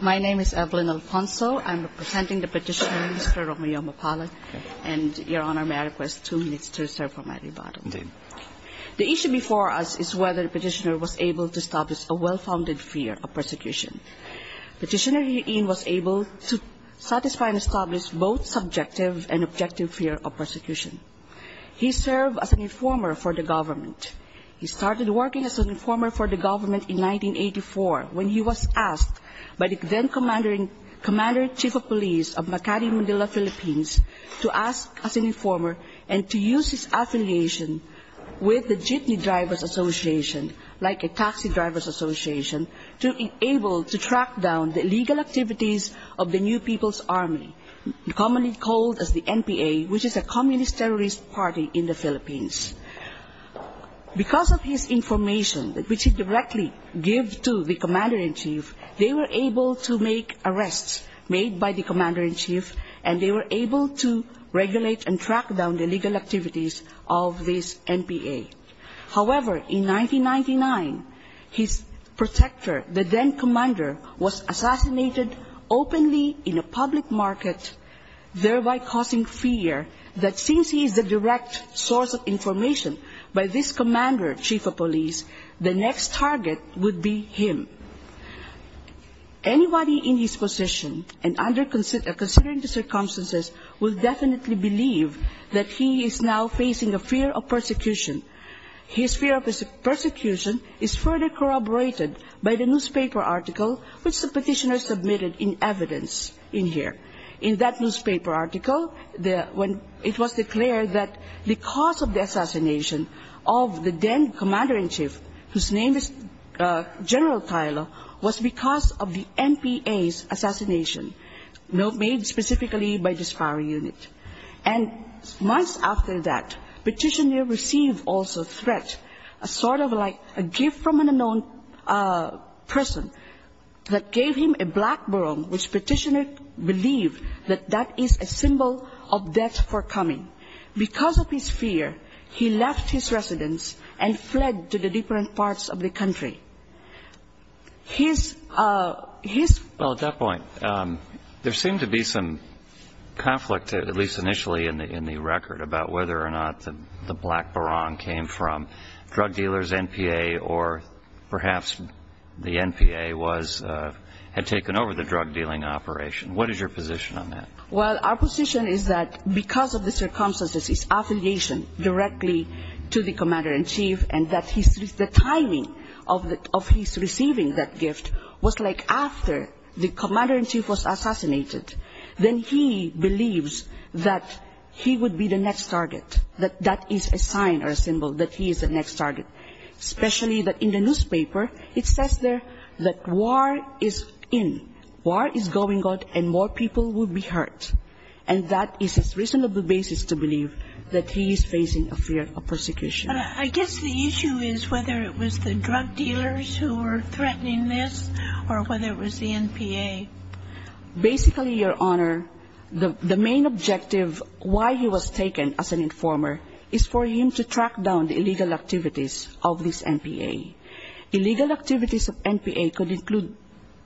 My name is Evelyn Alfonso. I'm representing the petitioner, Mr. Romeo Mapalad, and Your Honor, may I request two minutes to reserve for my rebuttal? The issue before us is whether the petitioner was able to establish a well-founded fear of persecution. Petitioner Huy Yen was able to satisfy and establish both subjective and objective fear of persecution. He served as an informer for the government. He started working as an informer for the government in 1984 when he was asked by the then Commander-in-Chief of Police of Makati, Manila, Philippines, to ask as an informer and to use his affiliation with the Jitney Drivers Association, like a taxi drivers association, to be able to track down the illegal activities of the New People's Army, commonly called as the NPA, which is a communist terrorist party in the Philippines. Because of his information, which he directly gave to the Commander-in-Chief, they were able to make arrests made by the Commander-in-Chief and they were able to regulate and track down the illegal activities of this NPA. However, in 1999, his protector, the then Commander, was assassinated openly in a public market, thereby causing fear that since he is the direct source of information by this Commander-in-Chief of Police, the next target would be him. Anybody in his position and considering the circumstances will definitely believe that he is now facing a fear of persecution. His fear of persecution is further corroborated by the newspaper article which the petitioner submitted in evidence in here. In that newspaper article, it was declared that the cause of the assassination of the then Commander-in-Chief, whose name is General Tyler, was because of the NPA's assassination, made specifically by the SPARRA unit. And months after that, the petitioner received also threats, sort of like a gift from an unknown person, that gave him a black barong, which petitioner believed that that is a symbol of death for coming. Because of his fear, he left his residence and fled to the different parts of the country. His ‑‑ Well, at that point, there seemed to be some conflict, at least initially in the record, about whether or not the black barong came from drug dealers, NPA, or perhaps the NPA had taken over the drug dealing operation. What is your position on that? Well, our position is that because of the circumstances, his affiliation directly to the Commander-in-Chief and the timing of his receiving that gift was like after the Commander-in-Chief was assassinated. Then he believes that he would be the next target, that that is a sign or a symbol that he is the next target. Especially that in the newspaper, it says there that war is in, war is going on, and more people will be hurt. And that is a reasonable basis to believe that he is facing a fear of persecution. But I guess the issue is whether it was the drug dealers who were threatening this or whether it was the NPA. Basically, Your Honor, the main objective why he was taken as an informer is for him to track down the illegal activities of this NPA. Illegal activities of NPA could include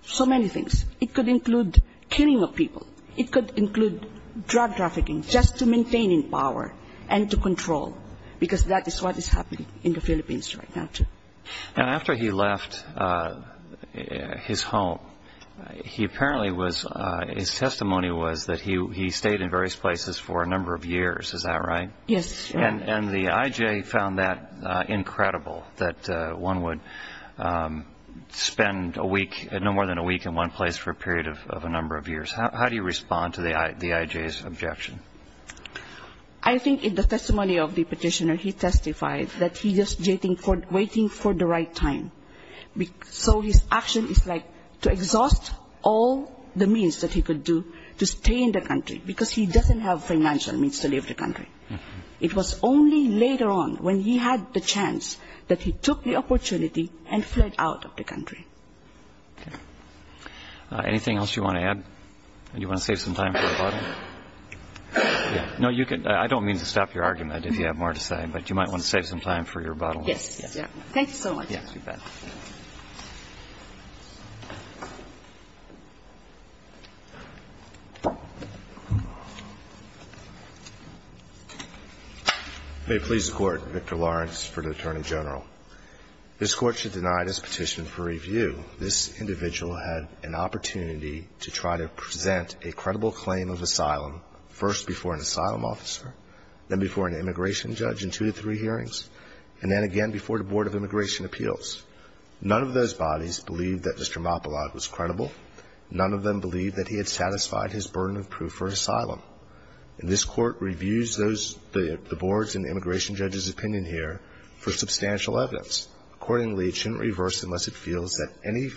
so many things. It could include killing of people. It could include drug trafficking, just to maintain power and to control, because that is what is happening in the Philippines right now, too. After he left his home, his testimony was that he stayed in various places for a number of years. Is that right? Yes. And the IJ found that incredible, that one would spend no more than a week in one place for a period of a number of years. How do you respond to the IJ's objection? I think in the testimony of the petitioner, he testified that he's just waiting for the right time. So his action is like to exhaust all the means that he could do to stay in the country, because he doesn't have financial means to leave the country. It was only later on when he had the chance that he took the opportunity and fled out of the country. Okay. Anything else you want to add? Do you want to save some time for the bottom? No, you can. I don't mean to stop your argument, if you have more to say, but you might want to save some time for your bottom line. Yes. Thank you so much. Yes, you bet. May it please the Court. Victor Lawrence for the Attorney General. This Court should deny this petition for review. This individual had an opportunity to try to present a credible claim of asylum, first before an asylum officer, then before an immigration judge in two to three hearings, and then again before the Board of Immigration Appeals. None of those bodies believed that Mr. Mopillot was credible. None of them believed that he had satisfied his burden of proof for asylum. And this Court reviews those, the Board's and the immigration judge's opinion here for substantial evidence. Accordingly, it shouldn't reverse unless it feels that any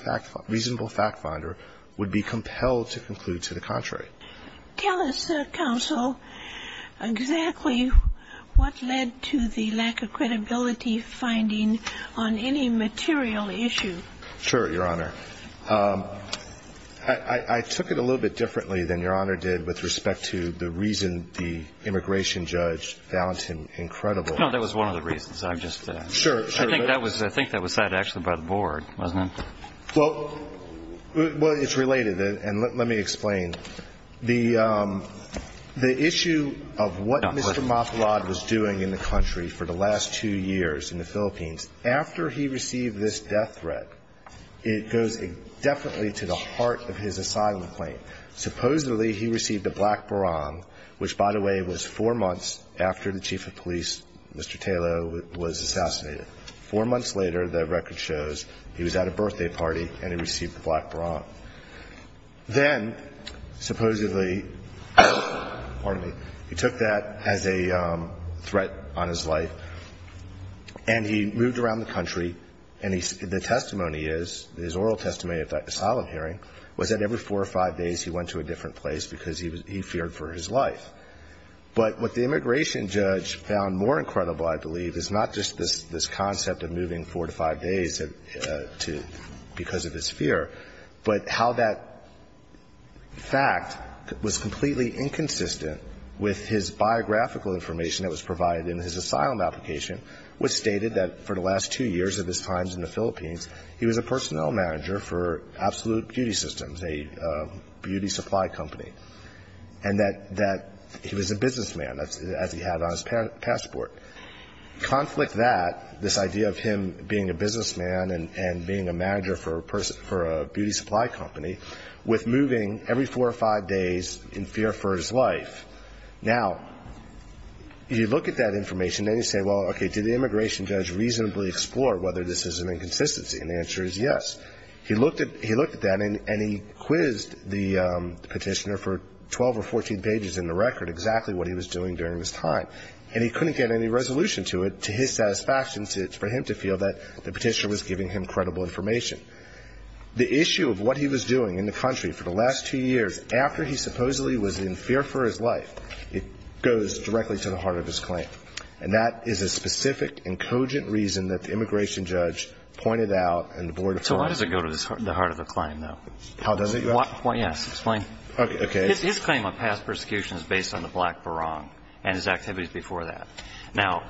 reasonable fact finder would be compelled to conclude to the contrary. Tell us, Counsel, exactly what led to the lack of credibility finding on any material issue. Sure, Your Honor. I took it a little bit differently than Your Honor did with respect to the reason the immigration judge found him incredible. No, that was one of the reasons. I'm just saying. I think that was said actually by the Board, wasn't it? Well, it's related, and let me explain. The issue of what Mr. Mopillot was doing in the country for the last two years in the Philippines, after he received this death threat, it goes indefinitely to the heart of his asylum claim. Supposedly, he received a black barang, which, by the way, was four months after the chief of police, Mr. Taylor, was assassinated. Four months later, the record shows he was at a birthday party and he received a black barang. Then, supposedly, pardon me, he took that as a threat on his life, and he moved around the country, and the testimony is, his oral testimony of that asylum hearing, was that every four or five days he went to a different place because he feared for his life. But what the immigration judge found more incredible, I believe, is not just this concept of moving four to five days because of his fear, but how that fact was completely inconsistent with his biographical information that was provided in his asylum application, which stated that for the last two years of his time in the Philippines, he was a personnel manager for Absolute Beauty Systems, a beauty supply company, and that he was a businessman, as he had on his passport. Conflict that, this idea of him being a businessman and being a manager for a beauty supply company, with moving every four or five days in fear for his life. Now, you look at that information and you say, well, okay, did the immigration judge reasonably explore whether this is an inconsistency? And the answer is yes. He looked at that and he quizzed the Petitioner for 12 or 14 pages in the record, exactly what he was doing during this time. And he couldn't get any resolution to it to his satisfaction for him to feel that the Petitioner was giving him credible information. The issue of what he was doing in the country for the last two years, after he supposedly was in fear for his life, it goes directly to the heart of his claim. And that is a specific and cogent reason that the immigration judge pointed out and the Board of Trustees. So why does it go to the heart of the claim, though? How does it, you ask? Yes, explain. Okay. His claim of past persecution is based on the Black Barong and his activities before that. Well,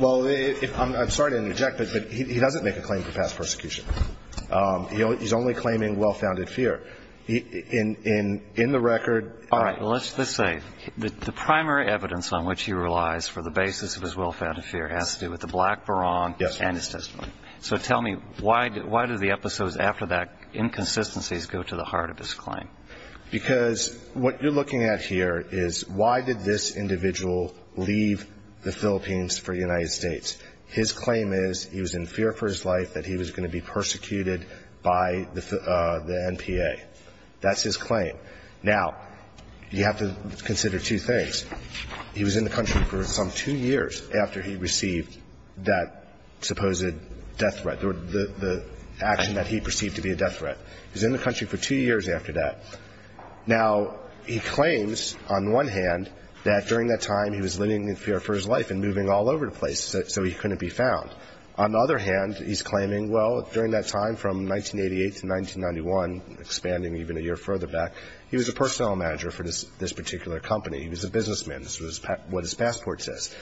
I'm sorry to interject, but he doesn't make a claim for past persecution. He's only claiming well-founded fear. In the record. All right. Well, let's just say the primary evidence on which he relies for the basis of his well-founded fear has to do with the Black Barong. Yes. And his testimony. So tell me, why do the episodes after that inconsistencies go to the heart of his claim? Because what you're looking at here is why did this individual leave the Philippines for the United States? His claim is he was in fear for his life that he was going to be persecuted by the NPA. That's his claim. Now, you have to consider two things. He was in the country for some two years after he received that supposed death threat, the action that he perceived to be a death threat. He was in the country for two years after that. Now, he claims, on the one hand, that during that time he was living in fear for his life and moving all over the place. So he couldn't be found. On the other hand, he's claiming, well, during that time from 1988 to 1991, expanding even a year further back, he was a personnel manager for this particular company. He was a businessman. This is what his passport says.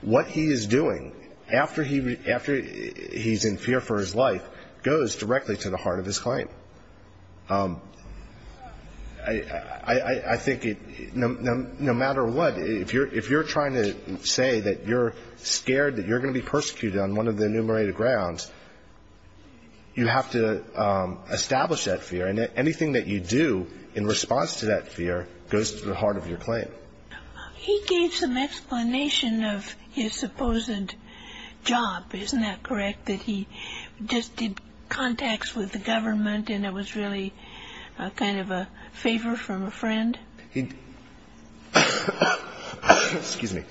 What he is doing after he's in fear for his life goes directly to the heart of his claim. I think no matter what, if you're trying to say that you're scared that you're going to be persecuted on one of the enumerated grounds, you have to establish that fear. And anything that you do in response to that fear goes to the heart of your claim. He gave some explanation of his supposed job, isn't that correct, that he just did contacts with the government and it was really kind of a favor from a friend? Excuse me.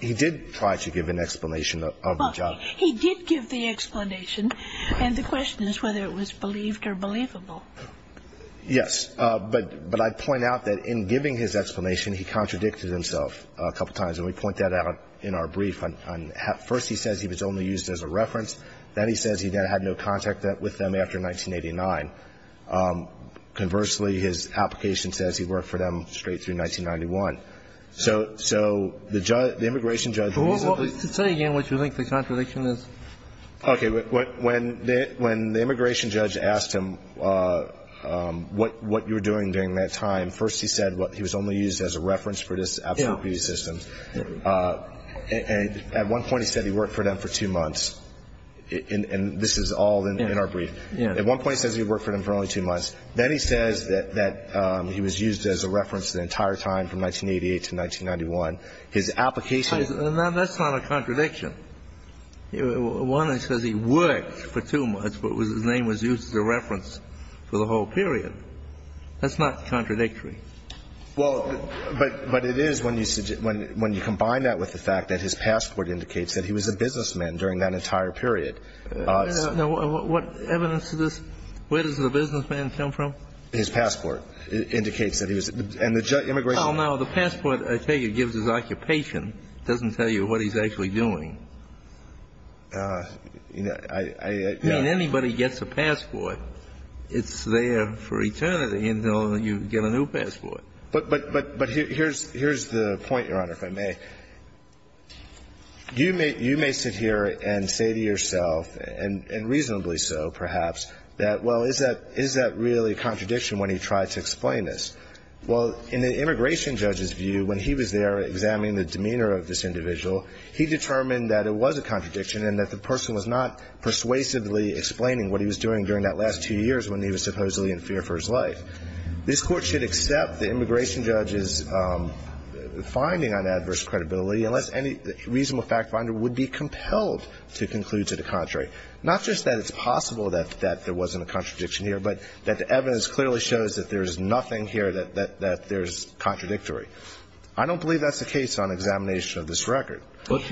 He did try to give an explanation of the job. He did give the explanation. And the question is whether it was believed or believable. Yes. But I point out that in giving his explanation, he contradicted himself a couple times. And we point that out in our brief. First, he says he was only used as a reference. Then he says he had no contact with them after 1989. Conversely, his application says he worked for them straight through 1991. So the immigration judge. Say again what you think the contradiction is. Okay. When the immigration judge asked him what you were doing during that time, first he said he was only used as a reference for this absolute And at one point he said he worked for them for two months. And this is all in our brief. At one point he says he worked for them for only two months. Then he says that he was used as a reference the entire time from 1988 to 1991. His application. That's not a contradiction. One, it says he worked for two months, but his name was used as a reference for the whole period. That's not contradictory. Well, but it is when you combine that with the fact that his passport indicates that he was a businessman during that entire period. No. What evidence is this? Where does the businessman come from? His passport indicates that he was. And the immigration. Oh, no. The passport, I tell you, gives his occupation. It doesn't tell you what he's actually doing. I mean, anybody gets a passport, it's there for eternity until you get a new passport. But here's the point, Your Honor, if I may. You may sit here and say to yourself, and reasonably so perhaps, that, well, is that really a contradiction when he tried to explain this? Well, in the immigration judge's view, when he was there examining the demeanor of this individual, he determined that it was a contradiction and that the person was not persuasively explaining what he was doing during that last two years when he was supposedly in fear for his life. This Court should accept the immigration judge's finding on adverse credibility unless any reasonable fact finder would be compelled to conclude to the contrary. Not just that it's possible that there wasn't a contradiction here, but that the evidence clearly shows that there's nothing here that there's contradictory. I don't believe that's the case on examination of this record. Well,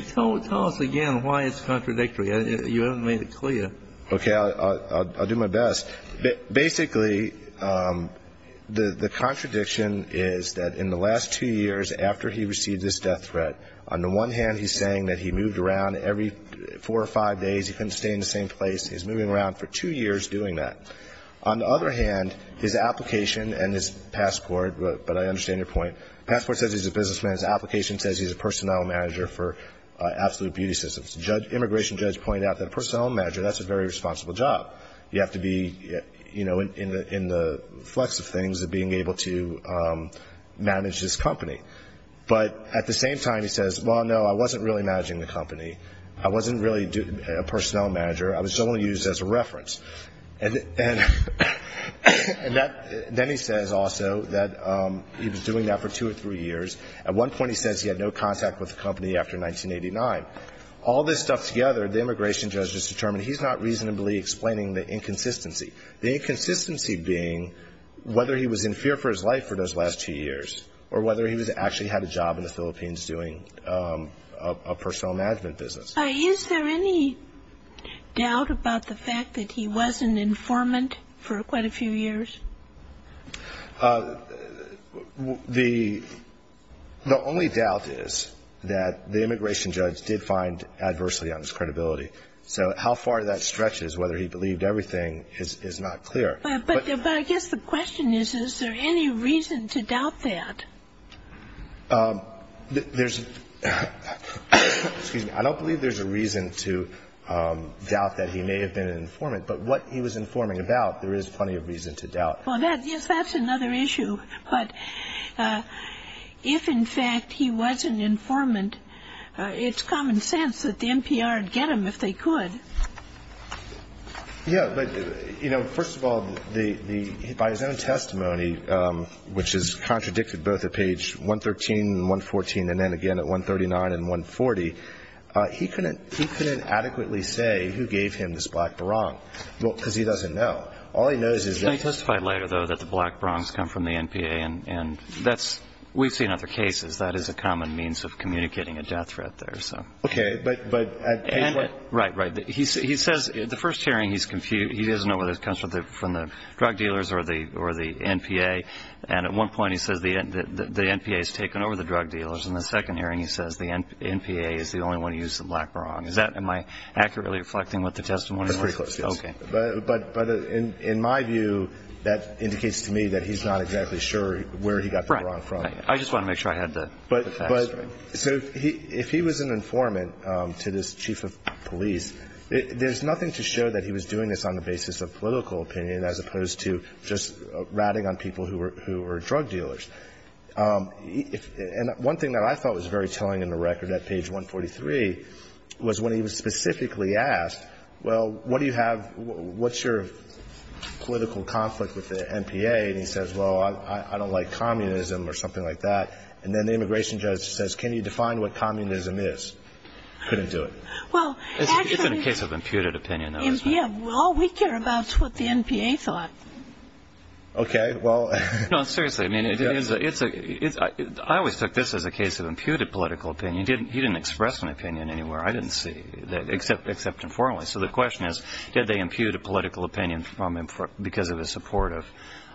tell us again why it's contradictory. You haven't made it clear. Okay. I'll do my best. Basically, the contradiction is that in the last two years after he received this death threat, on the one hand, he's saying that he moved around every four or five days. He couldn't stay in the same place. He was moving around for two years doing that. On the other hand, his application and his passport, but I understand your point, passport says he's a businessman. His application says he's a personnel manager for Absolute Beauty Systems. The immigration judge pointed out that a personnel manager, that's a very responsible job. You have to be, you know, in the flex of things, being able to manage this company. But at the same time, he says, well, no, I wasn't really managing the company. I wasn't really a personnel manager. I was only used as a reference. And then he says also that he was doing that for two or three years. At one point he says he had no contact with the company after 1989. All this stuff together, the immigration judge has determined he's not reasonably explaining the inconsistency. The inconsistency being whether he was in fear for his life for those last two years or whether he actually had a job in the Philippines doing a personnel management business. Is there any doubt about the fact that he wasn't an informant for quite a few years? The only doubt is that the immigration judge did find adversity on his credibility. So how far that stretches, whether he believed everything, is not clear. But I guess the question is, is there any reason to doubt that? There's no reason to doubt that he may have been an informant. But what he was informing about, there is plenty of reason to doubt. Well, yes, that's another issue. But if, in fact, he was an informant, it's common sense that the NPR would get him if they could. Yeah, but, you know, first of all, by his own testimony, which is contradicted both at page 113 and 114 and then again at 139 and 140, he couldn't adequately say who gave him this black barong because he doesn't know. All he knows is that – He testified later, though, that the black barongs come from the NPA. And that's – we've seen other cases. That is a common means of communicating a death threat there. Okay, but at page – Right, right. He says – the first hearing, he's confused. He doesn't know whether it comes from the drug dealers or the NPA. And at one point, he says the NPA has taken over the drug dealers. In the second hearing, he says the NPA is the only one who used the black barong. Is that – am I accurately reflecting what the testimony was? That's pretty close, yes. Okay. But in my view, that indicates to me that he's not exactly sure where he got the barong from. Right. I just want to make sure I had the facts right. So if he was an informant to this chief of police, there's nothing to show that he was doing this on the basis of political opinion as opposed to just ratting on people who were drug dealers. And one thing that I thought was very telling in the record at page 143 was when he was specifically asked, well, what do you have – what's your political conflict with the NPA? And he says, well, I don't like communism or something like that. And then the immigration judge says, can you define what communism is? Couldn't do it. Well, actually – It's in a case of imputed opinion. Yeah, well, we care about what the NPA thought. Okay, well – No, seriously. I mean, I always took this as a case of imputed political opinion. He didn't express an opinion anywhere I didn't see except informally. So the question is, did they impute a political opinion because of his support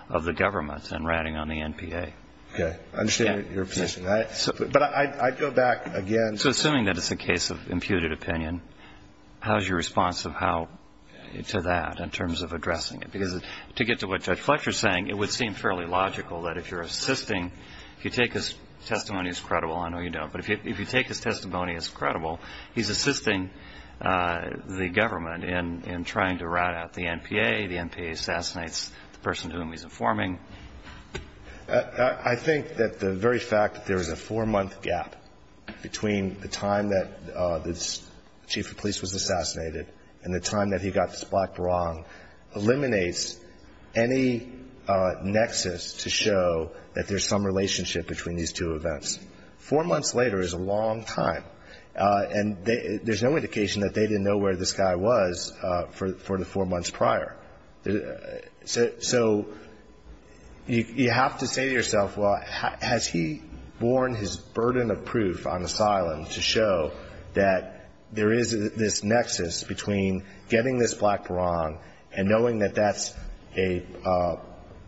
of the government and ratting on the NPA? Okay. I understand your position. But I'd go back again – So assuming that it's a case of imputed opinion, how is your response to that in terms of addressing it? Because to get to what Judge Fletcher is saying, it would seem fairly logical that if you're assisting – if you take his testimony as credible – I know you don't – but if you take his testimony as credible, he's assisting the government in trying to rat out the NPA. The NPA assassinates the person to whom he's informing. I think that the very fact that there is a four-month gap between the time that the chief of police was assassinated and the time that he got the splat wrong eliminates any nexus to show that there's some relationship between these two events. Four months later is a long time, and there's no indication that they didn't know where this guy was for the four months prior. So you have to say to yourself, well, has he borne his burden of proof on asylum to show that there is this nexus between getting this splat wrong and knowing that that's a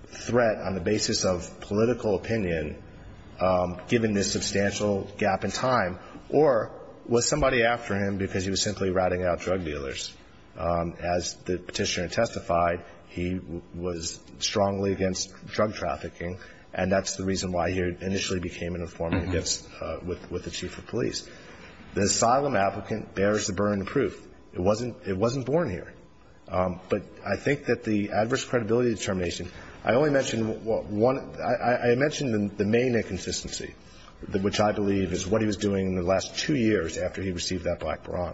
threat on the basis of political opinion, given this substantial gap in time, or was somebody after him because he was simply ratting out drug dealers? As the petitioner testified, he was strongly against drug trafficking, and that's the reason why he initially became an informant with the chief of police. The asylum applicant bears the burden of proof. It wasn't born here. But I think that the adverse credibility determination, I only mentioned one. I mentioned the main inconsistency, which I believe is what he was doing in the last two years after he received that black baron.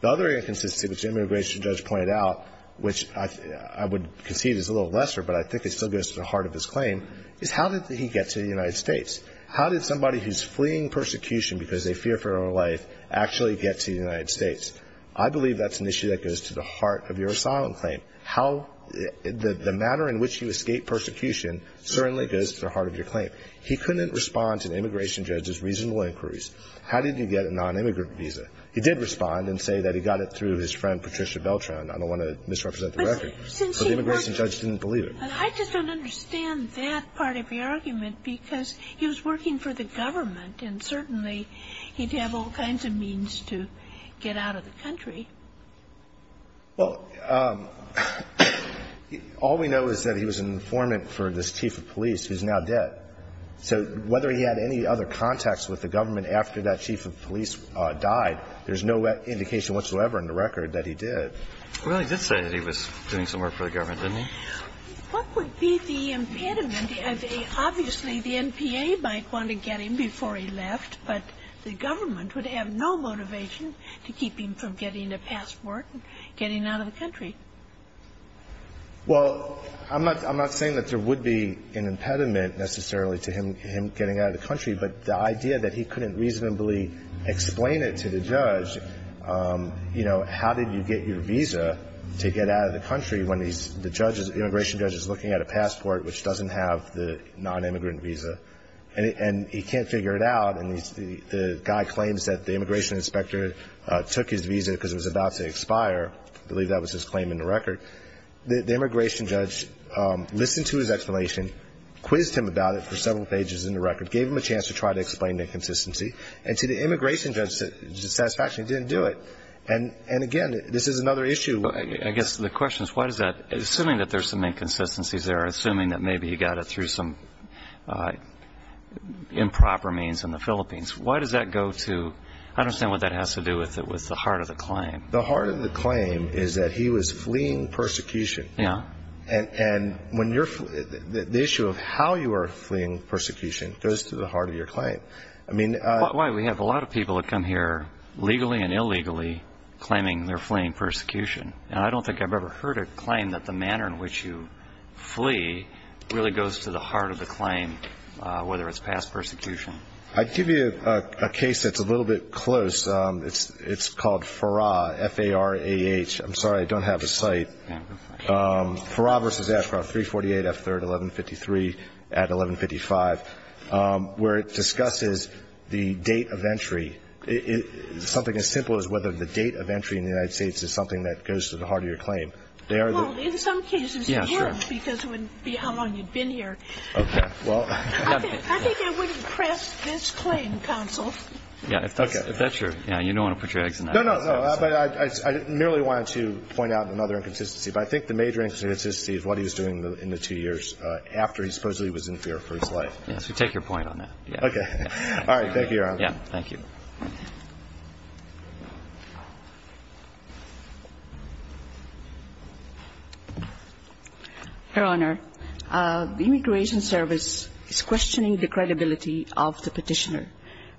The other inconsistency, which the immigration judge pointed out, which I would concede is a little lesser, but I think it still goes to the heart of his claim, is how did he get to the United States? How did somebody who's fleeing persecution because they fear for their life actually get to the United States? I believe that's an issue that goes to the heart of your asylum claim. How the matter in which you escape persecution certainly goes to the heart of your claim. He couldn't respond to the immigration judge's reasonable inquiries. How did he get a nonimmigrant visa? He did respond and say that he got it through his friend Patricia Beltran. I don't want to misrepresent the record. So the immigration judge didn't believe him. I just don't understand that part of your argument because he was working for the government and certainly he'd have all kinds of means to get out of the country. Well, all we know is that he was an informant for this chief of police who's now dead. So whether he had any other contacts with the government after that chief of police died, there's no indication whatsoever in the record that he did. Well, he did say that he was doing some work for the government, didn't he? What would be the impediment? Obviously, the NPA might want to get him before he left, but the government would have no motivation to keep him from getting a passport and getting out of the country. Well, I'm not saying that there would be an impediment necessarily to him getting out of the country, but the idea that he couldn't reasonably explain it to the judge, you know, how did you get your visa to get out of the country when the immigration judge is looking at a passport which doesn't have the nonimmigrant visa and he can't figure it out and the guy claims that the immigration inspector took his visa because it was about to expire. I believe that was his claim in the record. The immigration judge listened to his explanation, quizzed him about it for several pages in the record, gave him a chance to try to explain the inconsistency. And to the immigration judge's satisfaction, he didn't do it. And, again, this is another issue. I guess the question is why does that – assuming that there's some inconsistencies there, assuming that maybe you got it through some improper means in the Philippines, why does that go to – I don't understand what that has to do with the heart of the claim. The heart of the claim is that he was fleeing persecution. Yeah. And when you're – the issue of how you are fleeing persecution goes to the heart of your claim. I mean – Why we have a lot of people that come here legally and illegally claiming they're fleeing persecution. And I don't think I've ever heard a claim that the manner in which you flee really goes to the heart of the claim, whether it's past persecution. I'd give you a case that's a little bit close. It's called FARAH, F-A-R-A-H. I'm sorry. I don't have a site. FARAH versus AFRA, 348 F3rd 1153 at 1155. Where it discusses the date of entry. Something as simple as whether the date of entry in the United States is something that goes to the heart of your claim. Well, in some cases it would, because it wouldn't be how long you'd been here. Okay. Well – I think I wouldn't press this claim, counsel. Yeah, if that's your – you don't want to put your eggs in the house. No, no, no. But I merely wanted to point out another inconsistency. But I think the major inconsistency is what he was doing in the two years after he supposedly was in fear for his life. Yes, we take your point on that. Okay. All right, thank you, Your Honor. Yeah, thank you. Your Honor, the Immigration Service is questioning the credibility of the petitioner.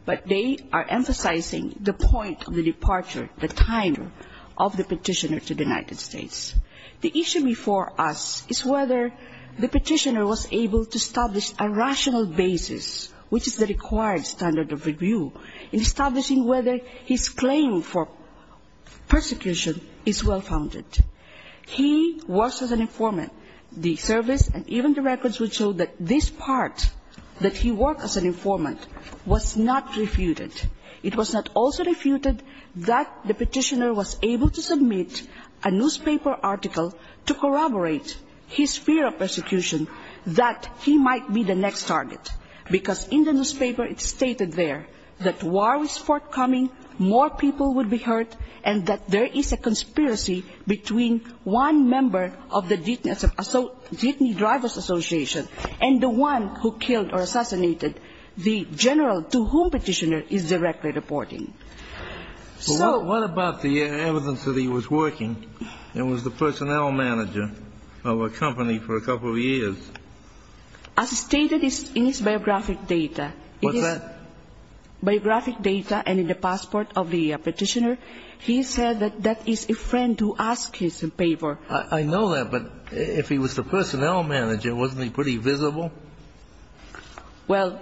But they are emphasizing the point of the departure, the timer, of the petitioner to the United States. The issue before us is whether the petitioner was able to establish a rational basis, which is the required standard of review, in establishing whether his claim for persecution is well-founded. He was an informant. The service and even the records would show that this part, that he worked as an informant, was not refuted. It was not also refuted that the petitioner was able to submit a newspaper article to corroborate his fear of persecution, that he might be the next target. Because in the newspaper it's stated there that war is forthcoming, more people would be hurt, and that there is a conspiracy between one member of the Ditney Drivers Association and the one who killed or assassinated the general to whom the petitioner is directly reporting. So what about the evidence that he was working and was the personnel manager of a company for a couple of years? As stated in his biographic data. What's that? Biographic data and in the passport of the petitioner, he said that that is a friend who asked his favor. I know that, but if he was the personnel manager, wasn't he pretty visible? Well,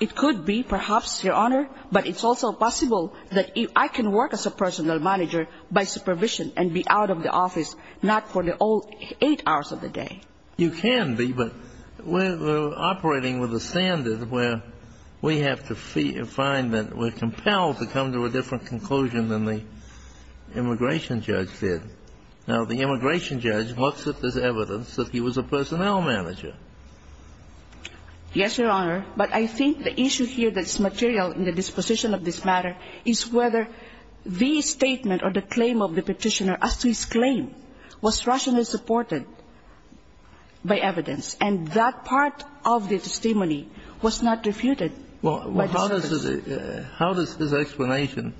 it could be, perhaps, Your Honor, but it's also possible that I can work as a personnel manager by supervision and be out of the office, not for the whole eight hours of the day. You can be, but we're operating with a standard where we have to find that we're compelled to come to a different conclusion than the immigration judge did. Now, the immigration judge looks at this evidence that he was a personnel manager. Yes, Your Honor, but I think the issue here that's material in the disposition of this matter is whether the statement or the claim of the petitioner as to his claim was rationally supported by evidence, and that part of the testimony was not refuted. Well, how does his explanation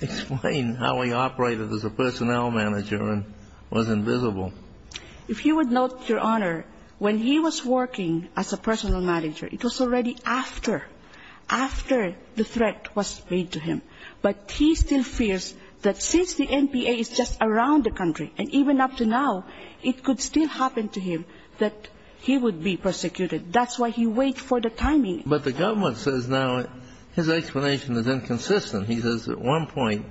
explain how he operated as a personnel manager and was invisible? If you would note, Your Honor, when he was working as a personnel manager, it was already after, after the threat was made to him, but he still fears that since the NPA is just around the country, and even up to now, it could still happen to him that he would be persecuted. That's why he waits for the timing. But the government says now his explanation is inconsistent. He says at one point,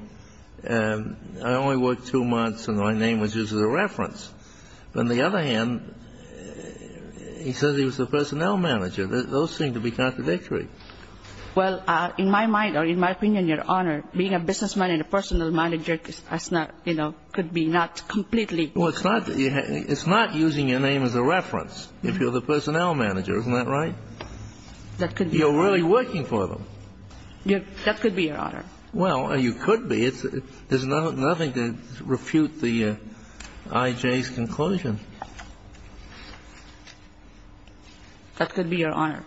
I only worked two months and my name was used as a reference. On the other hand, he says he was a personnel manager. Those seem to be contradictory. Well, in my mind, or in my opinion, Your Honor, being a businessman and a personnel manager is not, you know, could be not completely. Well, it's not using your name as a reference if you're the personnel manager. Isn't that right? You're really working for them. That could be, Your Honor. Well, you could be. There's nothing to refute the IJ's conclusion. That could be, Your Honor.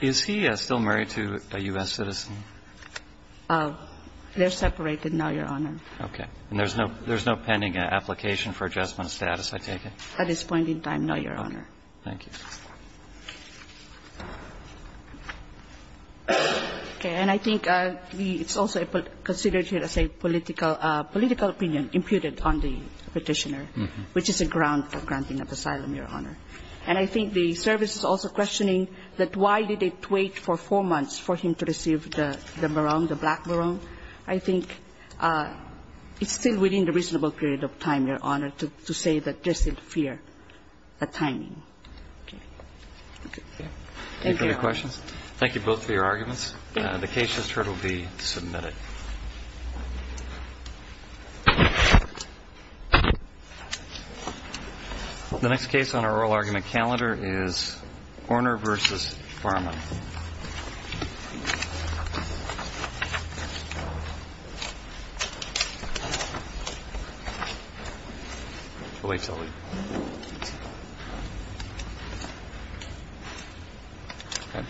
Is he still married to a U.S. citizen? They're separated, no, Your Honor. Okay. And there's no pending application for adjustment of status, I take it? At this point in time, no, Your Honor. Thank you. Okay. And I think it's also considered here as a political opinion imputed on the Petitioner, which is a ground for granting of asylum, Your Honor. And I think the service is also questioning that why did it wait for four months for him to receive the maroon, the black maroon? I think it's still within the reasonable period of time, Your Honor, to say that there's still fear of timing. Okay. Okay. Thank you. Any further questions? Thank you both for your arguments. The case just heard will be submitted. The next case on our oral argument calendar is Horner v. Farman.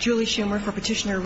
Julie Schumer for Petitioner.